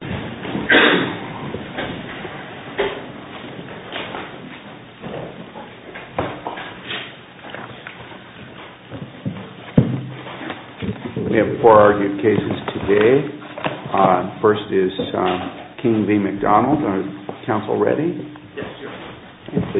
We have four argued cases today. First is King v. McDonald. Is counsel ready? If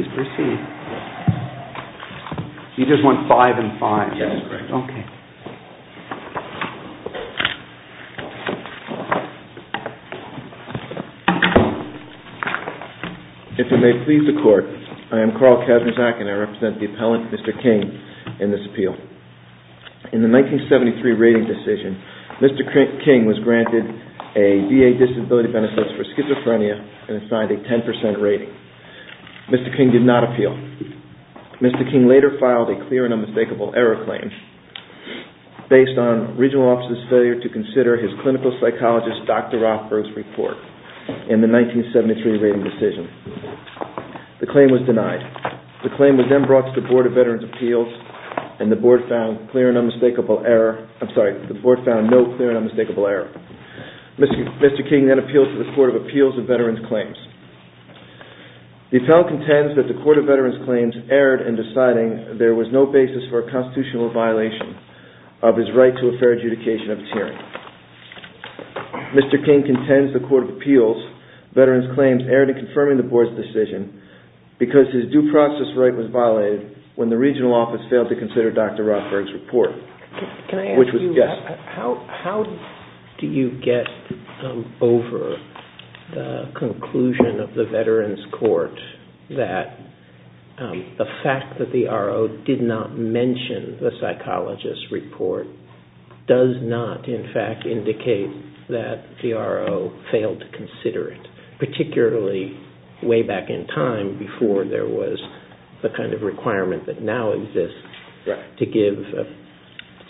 it may please the court, I am Carl Kazanczak and I represent the appellant, Mr. King, in this appeal. In the 1973 rating decision, Mr. King was granted a VA Disability Benefits for Schizophrenia and assigned a 10% rating. Mr. King did not appeal. Mr. King later filed a clear and unmistakable error claim based on regional officer's failure to consider his clinical psychologist Dr. Rothberg's report in the 1973 rating decision. The claim was denied. The claim was then brought to the Board of Veterans' Appeals and the Board found no clear and unmistakable error. Mr. King then appealed to the Court of Appeals of Veterans' Claims. The appellant contends that the Court of Veterans' Claims erred in deciding there was no basis for a constitutional violation of his right to a fair adjudication of his hearing. Mr. King contends the Court of Appeals' Veterans' Claims erred in confirming the Board's decision because his due process right was violated when the regional office failed to consider his report. Can I ask you, how do you get over the conclusion of the Veterans' Court that the fact that the RO did not mention the psychologist's report does not in fact indicate that the RO failed to consider it, particularly way back in time before there was the kind of requirement that now exists to give a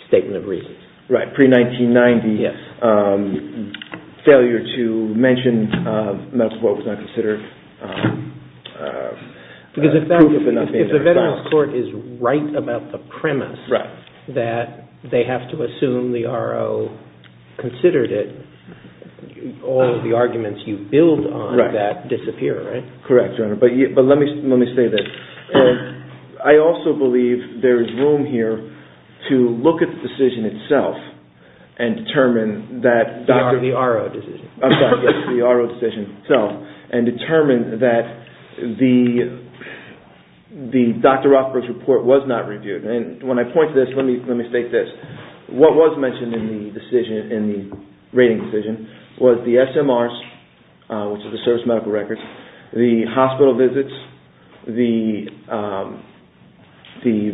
statement of reasons? Right, pre-1990 failure to mention medical report was not considered. If the Veterans' Court is right about the premise that they have to assume the RO considered it, all of the arguments you build on that disappear, right? Correct, but let me say this. I also believe there is room here to look at the decision itself and determine that the RO decision itself and determine that the Dr. Rothberg's report was not reviewed. When I point to this, let me point to the SMRs, which are the service medical records, the hospital visits, the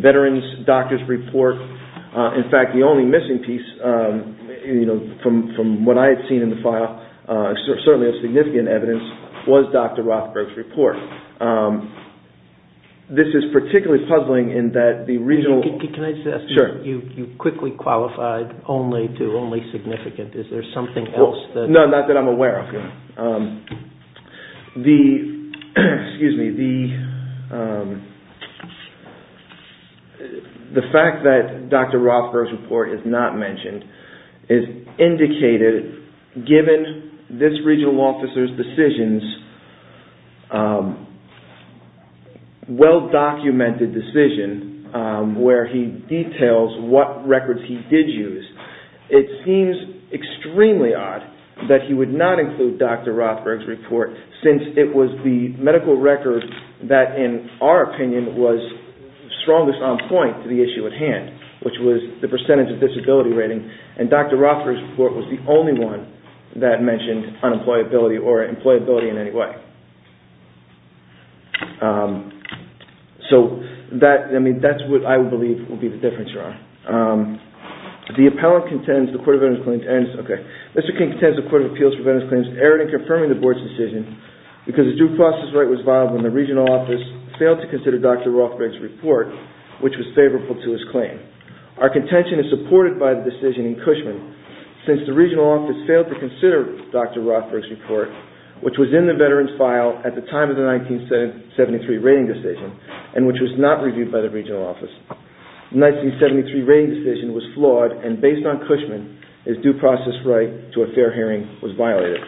Veterans' doctor's report. In fact, the only missing piece from what I had seen in the file, certainly of significant evidence, was Dr. Rothberg's report. This is particularly puzzling in that the regional... Can I just ask you, you quickly qualified only to only significant. Is there something else that... No, not that I'm aware of. The fact that Dr. Rothberg's report is not mentioned is indicated given this regional officer's decisions, well-documented decision where he details what records he did use. It seems extremely odd that he would not include Dr. Rothberg's report since it was the medical record that in our opinion was strongest on point to the issue at hand, which was the percentage of disability rating. Dr. Rothberg's report was the only one that mentioned unemployability in any way. That's what I believe will be the difference here. The appellant contends the Court of Appeals for Veterans' Claims erred in confirming the Board's decision because the due process right was violated when the regional office failed to consider Dr. Rothberg's report, which was favorable to his claim. Our contention is supported by the decision in Cushman since the regional office failed to consider Dr. Rothberg's report, which was in the veteran's file at the time of the 1973 rating decision and which was not reviewed by the regional office. The 1973 rating decision was flawed and based on Cushman, his due process right to a fair hearing was violated.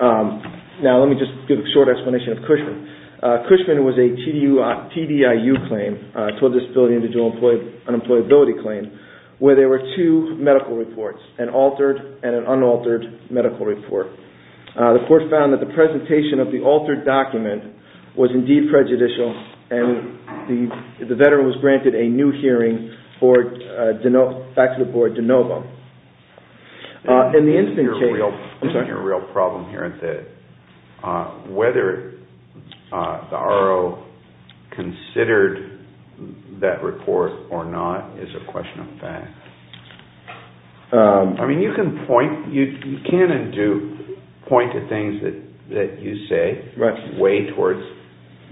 Now, let me just give a short explanation of Cushman. Cushman was a TDIU claim, a Total Disability Individual Unemployability claim, where there were two medical reports, an altered and an unaltered medical report. The court found that the presentation of the altered document was indeed prejudicial and the veteran was granted a new hearing back to the board de novo. The real problem here is that whether the R.O. considered that report or not is a question of fact. I mean, you can point, you can in Duke, point to things that you say way towards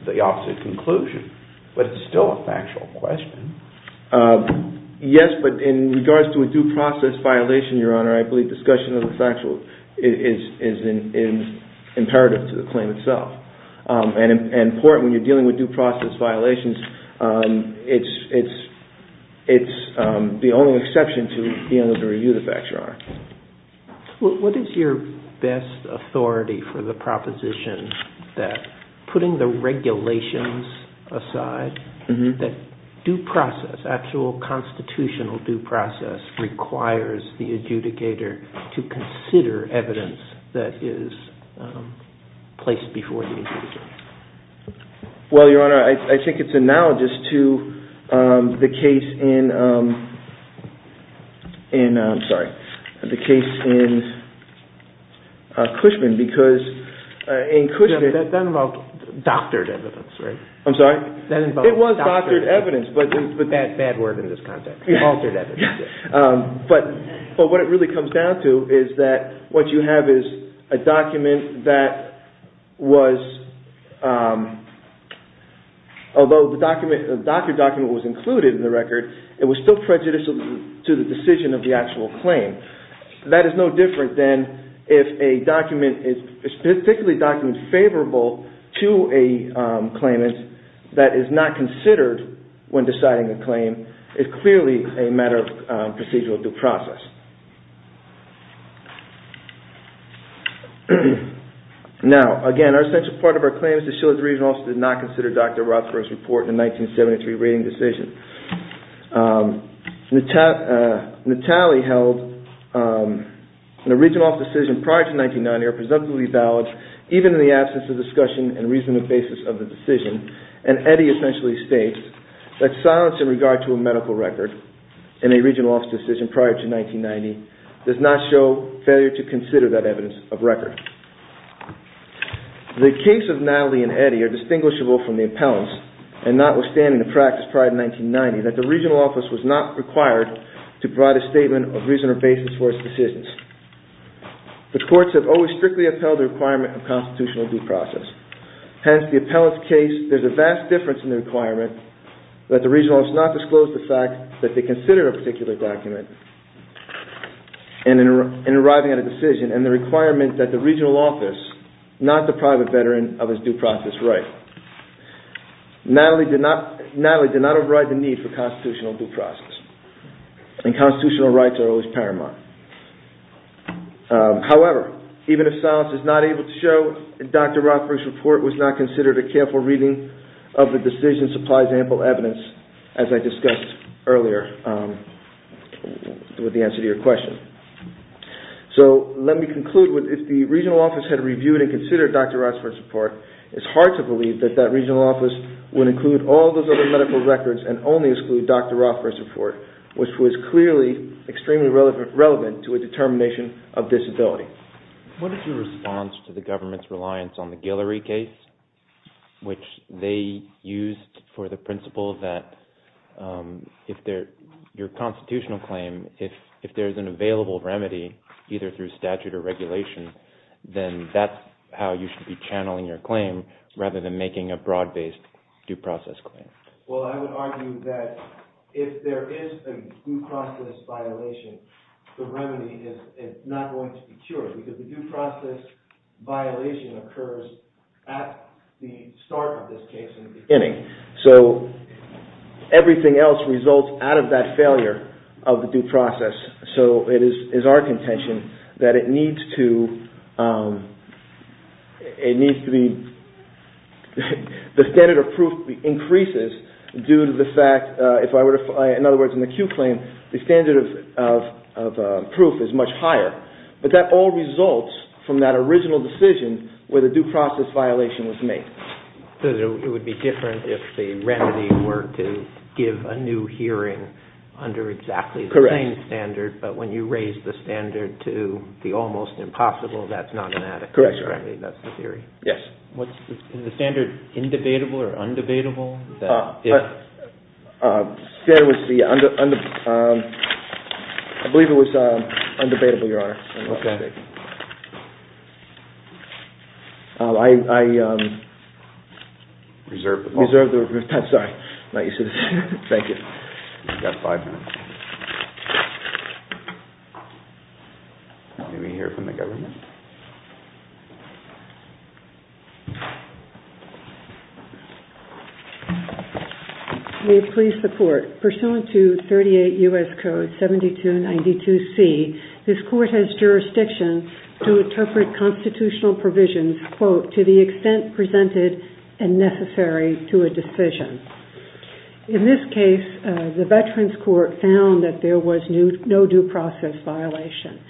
the opposite conclusion, but it's still a factual question. Yes, but in regards to a due process violation, Your Honor, I believe discussion of the factual is imperative to the claim itself. And in court, when you're dealing with due process violations, it's the only exception to being able to review the facts, Your Honor. What is your best authority for the proposition that putting the regulations aside, that due process, actual constitutional due process requires the adjudicator to consider evidence that is placed before the adjudicator? Well, Your Honor, I think it's analogous to the case in Cushman, because in Cushman... That involved doctored evidence, right? I'm sorry? That involved doctored evidence. But that's bad word in this context, altered evidence. But what it really comes down to is that what you have is a document that was, although the doctored document was included in the record, it was still prejudicial to the decision of the actual claim. That is no different than if a document is particularly document favorable to a claimant that is not considered when deciding a claim. It's clearly a matter of procedural due process. Now, again, an essential part of our claim is that the Shillings Regional Office did not consider Dr. Rothberg's report in the 1973 rating decision. Natale held that the reason or basis of the decision, and Eddy essentially states that silence in regard to a medical record in a regional office decision prior to 1990 does not show failure to consider that evidence of record. The case of Natale and Eddy are distinguishable from the appellants, and notwithstanding the practice prior to 1990, that the regional office was not required to provide a statement of reason or basis for its decisions. The courts have always strictly upheld the requirement of constitutional due process. Hence, the appellant's case, there's a vast difference in the requirement that the regional office not disclose the fact that they considered a particular document in arriving at a decision, and the requirement that the regional office, not the private veteran, have its due process right. Natale did not override the need for constitutional due process, and constitutional rights are always paramount. However, even if silence is not able to show, Dr. Rothberg's report was not considered a careful reading of the decision supplies ample evidence, as I discussed earlier with the answer to your question. So, let me conclude with, if the regional office had reviewed and considered Dr. Rothberg's report, it's hard to believe that that regional office would include all those other medical records, and only exclude Dr. Rothberg's report, which was clearly extremely relevant to a determination of disability. What is your response to the government's reliance on the Guillory case, which they used for the principle that your constitutional claim, if there's an available remedy, either through statute or regulation, then that's how you should be channeling your claim, rather than making a broad-based due process claim? Well, I would argue that if there is a due process violation, the remedy is not going to be cured, because the due process violation occurs at the start of this case, in the beginning. So, everything else results out of that failure of the due process. So, it is our contention that it needs to be, the standard of proof increases due to the fact, in other words, in the Q claim, the standard of proof is much higher. But that all results from that original decision, where the due process violation was made. So, it would be different if the remedy were to give a new hearing under exactly the same standard, but when you raise the standard to the almost impossible, that's not an adequate remedy, that's the theory? Yes. Is the standard indebatable or undebatable? I believe it was undebatable, Your Honor. Okay. I reserve the time. Thank you. We've got five minutes. Let me hear from the government. May it please the Court, pursuant to 38 U.S. Code 7292C, this Court has jurisdiction to interpret constitutional provisions, quote, to the extent presented and necessary to a decision. In this case, the Veterans Court found that there was no due process violation,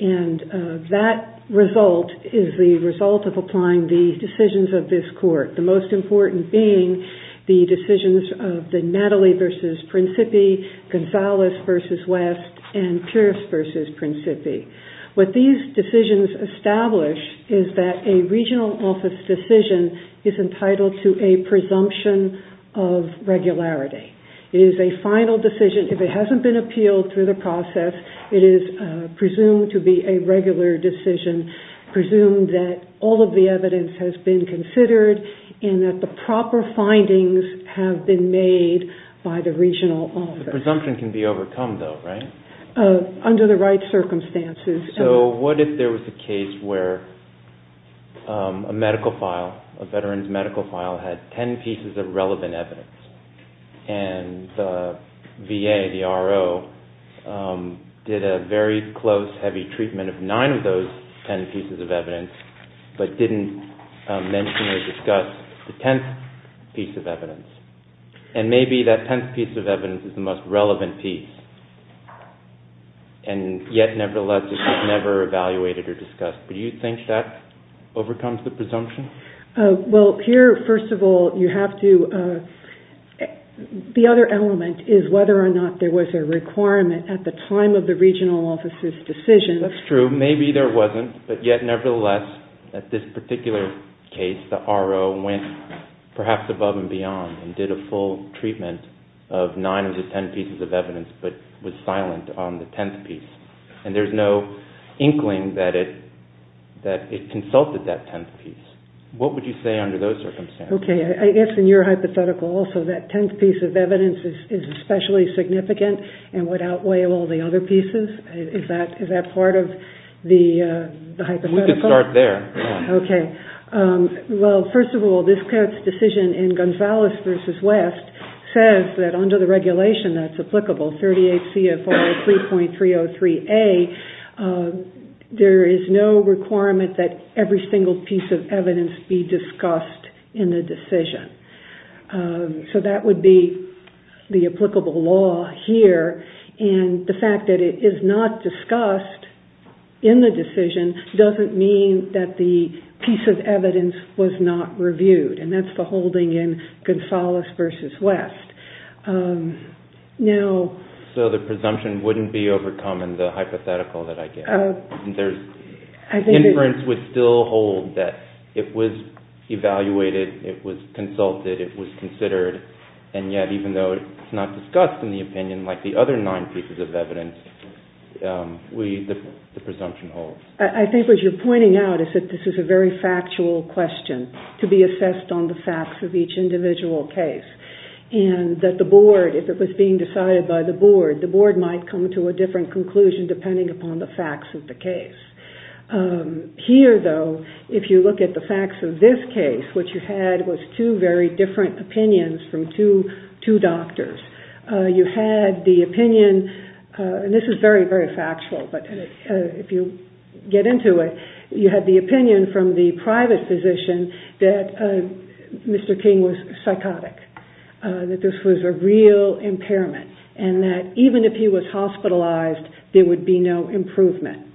and that result is the result of applying the decisions of this Court, the most important being the decisions of the Natalie v. Principi, Gonzalez v. West, and Pierce v. Principi. What these decisions establish is that a regional office decision is entitled to a presumption of regularity. It is a final decision. If it hasn't been appealed through the process, it is presumed to be a regular decision, presumed that all of the evidence has been considered, and that the proper findings have been made by the regional office. The presumption can be overcome, though, right? Under the right circumstances. So what if there was a case where a medical file, a veteran's medical file, had ten pieces of relevant evidence, and the VA, the RO, did a very close, heavy treatment of nine of those ten pieces of evidence, but didn't mention or discuss the tenth piece of evidence? And maybe that tenth piece of evidence is the most relevant piece, and yet, nevertheless, it was never evaluated or discussed. Do you think that overcomes the presumption? Well, here, first of all, you have to, the other element is whether or not there was a requirement at the time of the regional office's decision. That's true. Maybe there wasn't, but yet, nevertheless, at this particular case, the RO went perhaps above and beyond and did a full treatment of nine of the ten pieces of evidence, but was silent on the tenth piece. And there's no inkling that it consulted that case. What would you say under those circumstances? Okay. I guess in your hypothetical also, that tenth piece of evidence is especially significant and would outweigh all the other pieces. Is that part of the hypothetical? We could start there. Okay. Well, first of all, this court's decision in Gonzales v. West says that under the regulation that's applicable, 38 CFR 3.303A, there is no requirement that every single piece of evidence be discussed in the decision. So that would be the applicable law here, and the fact that it is not discussed in the decision doesn't mean that the piece of evidence was not reviewed, and that's the holding in Gonzales v. West. So the presumption wouldn't be overcome in the hypothetical that I gave? Inference would still hold that it was evaluated, it was consulted, it was considered, and yet even though it's not discussed in the opinion like the other nine pieces of evidence, the presumption holds. I think what you're pointing out is that this is a very factual question to be assessed on the facts of each individual case, and that the board, if it was being decided by the board, the board might come to a different conclusion depending upon the facts of the case. Here, though, if you look at the facts of this case, what you had was two very different opinions from two doctors. You had the opinion, and this is very, very factual, but if you get into it, you had the opinion from the private physician that Mr. King was psychotic, that this was a real impairment, and that even if he was hospitalized, there would be no improvement.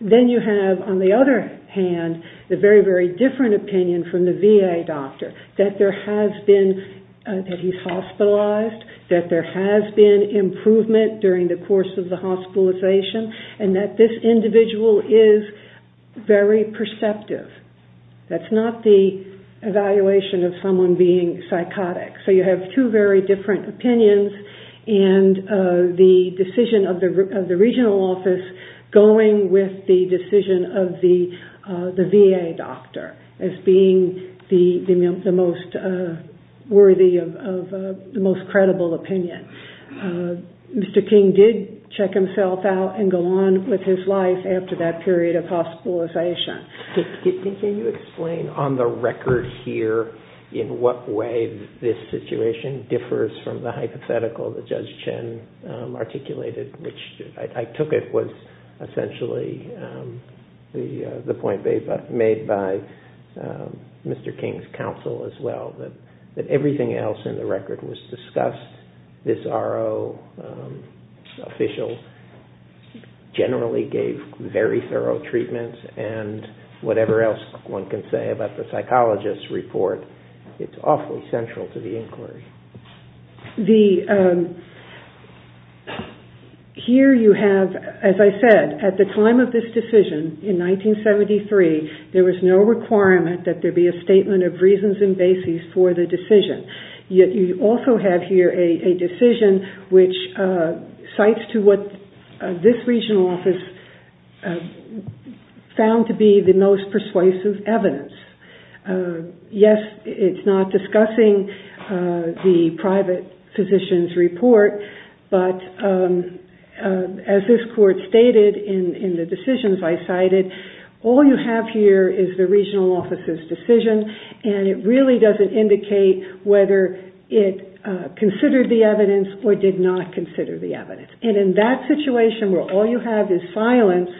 Then you have, on the other hand, the very, very different opinion from the VA doctor, that there has been, that he's hospitalized, that there has been improvement during the course of the hospitalization, and that this individual is very perceptive. That's not the evaluation of someone being psychotic. So you have two very different opinions, and the decision of the regional office going with the decision of the VA doctor as being the most worthy of the most credible opinion. Mr. King did check himself out and go on with his life after that period of hospitalization. Can you explain on the record here in what way this situation differs from the hypothetical that Judge Chin articulated, which I took it was essentially the point made by Mr. King's as well, that everything else in the record was discussed. This RO official generally gave very thorough treatments, and whatever else one can say about the psychologist's report, it's awfully central to the inquiry. Here you have, as I said, at the time of this decision, in 1973, there was no requirement that there be a statement of reasons and basis for the decision. Yet you also have here a decision which cites to what this regional office found to be the most persuasive evidence. Yes, it's not discussing the private physician's report, but as this court stated in the decisions I cited, all you have here is the regional office's decision, and it really doesn't indicate whether it considered the evidence or did not consider the evidence. In that situation where all you have is silence,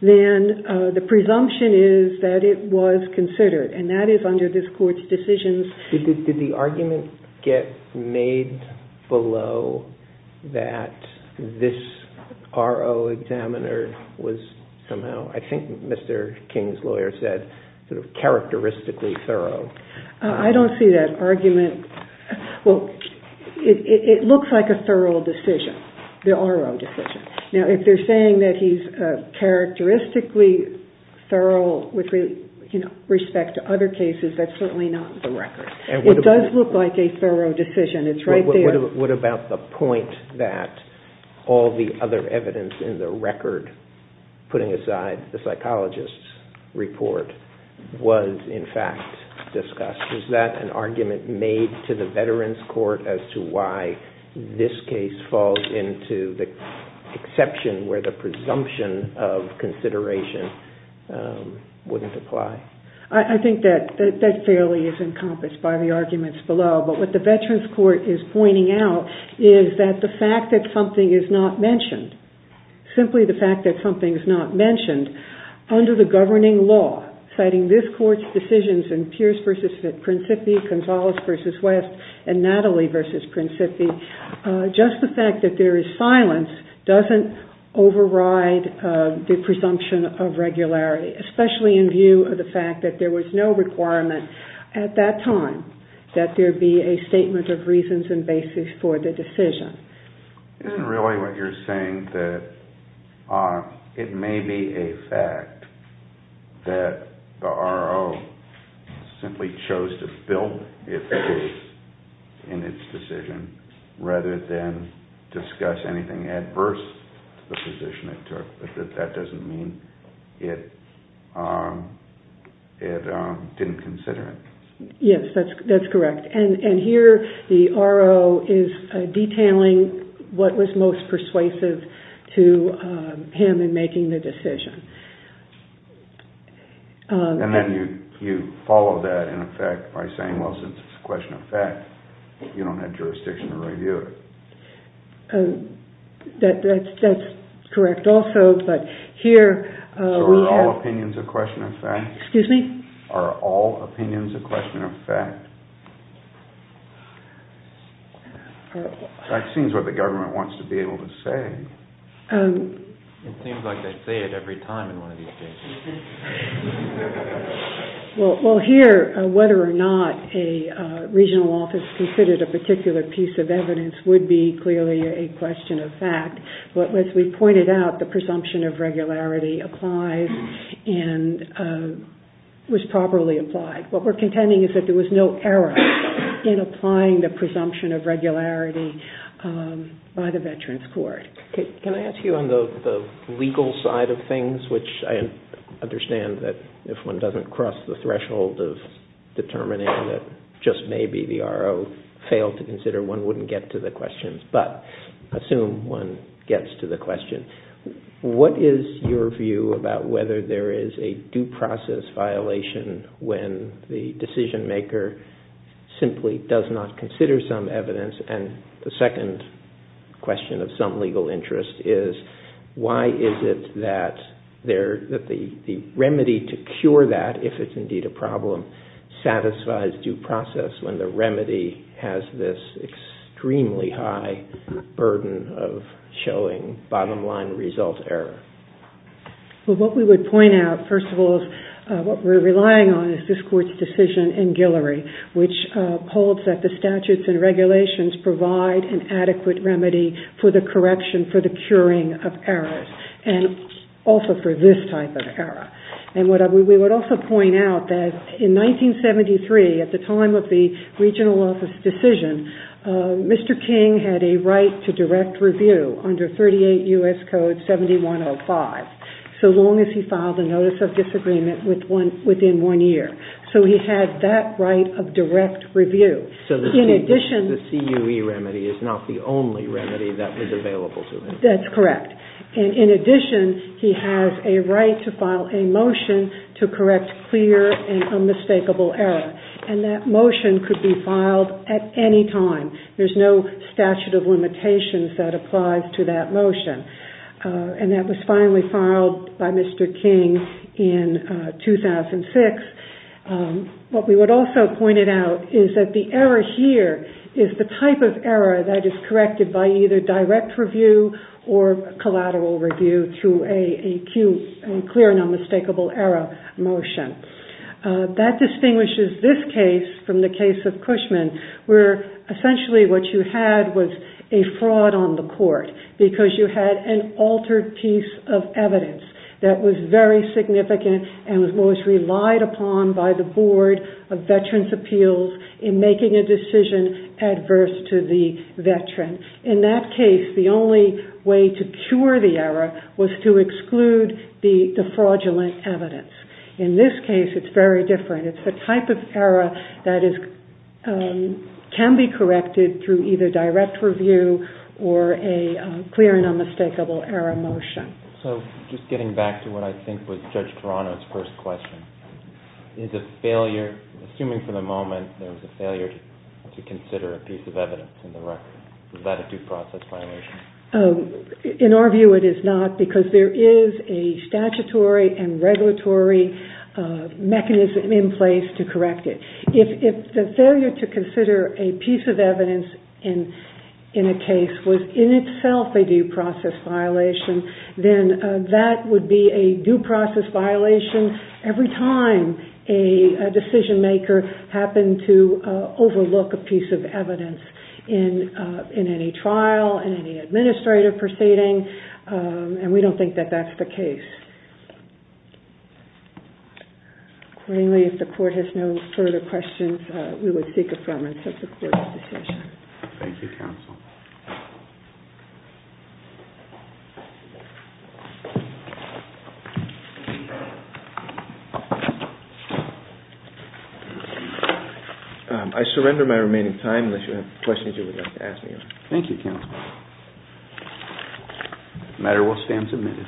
then the presumption is that it was considered, and that is under this court's decisions. Did the argument get made below that this RO examiner was somehow, I think Mr. King's lawyer said, characteristically thorough? I don't see that argument. Well, it looks like a thorough decision, the RO decision. Now, if they're saying that he's characteristically thorough with respect to other cases, that's certainly not the record. It does look like a thorough decision. It's right there. What about the point that all the other evidence in the record, putting aside the psychologist's report, was in fact discussed? Was that an argument made to the Veterans Court as to why this case falls into the exception where the presumption of consideration wouldn't apply? I think that that fairly is encompassed by the arguments below, but what the Veterans Court is pointing out is that the fact that something is not mentioned, simply the fact that something is not mentioned, under the governing law, citing this court's decisions in Pierce v. Principi, Gonzales v. West, and Natalie v. Principi, just the fact that there was no requirement at that time that there be a statement of reasons and basis for the decision. Isn't really what you're saying that it may be a fact that the RO simply chose to build it in its decision rather than discuss anything adverse to the position it took, but that doesn't mean it didn't consider it. Yes, that's correct. And here the RO is detailing what was most persuasive to him in making the decision. And then you follow that in effect by saying, well, since it's a question of fact, you don't have jurisdiction to review it. That's correct also, but here we have... So are all opinions a question of fact? Excuse me? Are all opinions a question of fact? That seems what the government wants to be able to say. It seems like they say it every time in one of these cases. Well, here, whether or not a regional office considered a particular piece of evidence would be clearly a question of fact. But as we pointed out, the presumption of regularity applies and was properly applied. What we're contending is that there was no error in applying the presumption of regularity by the Veterans Court. Can I ask you on the legal side of things, which I understand that if one doesn't cross the threshold of determining that just maybe the RO failed to consider, one wouldn't get to the question. But assume one gets to the question. What is your view about whether there is a due process violation when the decision maker simply does not consider some evidence? And the second question of some legal interest is, why is it that the remedy to cure that, if it's indeed a problem, satisfies due process when the remedy has this extremely high burden of showing bottom-line result error? Well, what we would point out, first of all, is what we're relying on is this Court's decision in Guillory, which holds that the statutes and regulations provide an adequate remedy for the correction, for the curing of errors, and also for this type of error. And we would also point out that in 1973, at the time of the regional office decision, Mr. King had a right to direct review under 38 U.S. Code 7105, so long as he filed a notice of disagreement within one year. So he had that right of direct review. So the CUE remedy is not the only remedy that was available to him. That's correct. And in addition, he has a right to file a motion to correct clear and unmistakable error. And that motion could be filed at any time. There's no statute of limitations that applies to that motion. And that was finally filed by Mr. King in 2006. What we would also point out is that the error here is the type of error that is corrected by either direct review or collateral review through a CUE, a clear and unmistakable error, motion. That distinguishes this case from the case of Cushman, where essentially what you had was a fraud on the Court because you had an altered piece of evidence that was very significant and was most relied upon by the Board of Veterans' Appeals in making a decision adverse to the veteran. In that case, the only way to cure the error was to exclude the fraudulent evidence. In this case, it's very different. It's the type of error that can be corrected through either direct review or a clear and unmistakable error motion. So just getting back to what I think was Judge Toronto's first question, is a failure, assuming for the moment there was a failure to consider a piece of evidence in the record, is that a due process violation? In our view, it is not because there is a statutory and regulatory mechanism in place to correct it. If the failure to consider a piece of evidence in a case was in itself a due process violation, then that would be a due process violation every time a decision maker happened to overlook a piece of evidence in any trial, in any administrative proceeding, and we don't think that that's the case. Accordingly, if the Court has no further questions, we would seek affirmation of the Court's decision. Thank you, Counsel. I surrender my remaining time unless you have questions you would like to ask me. Thank you, Counsel. The matter will stand submitted.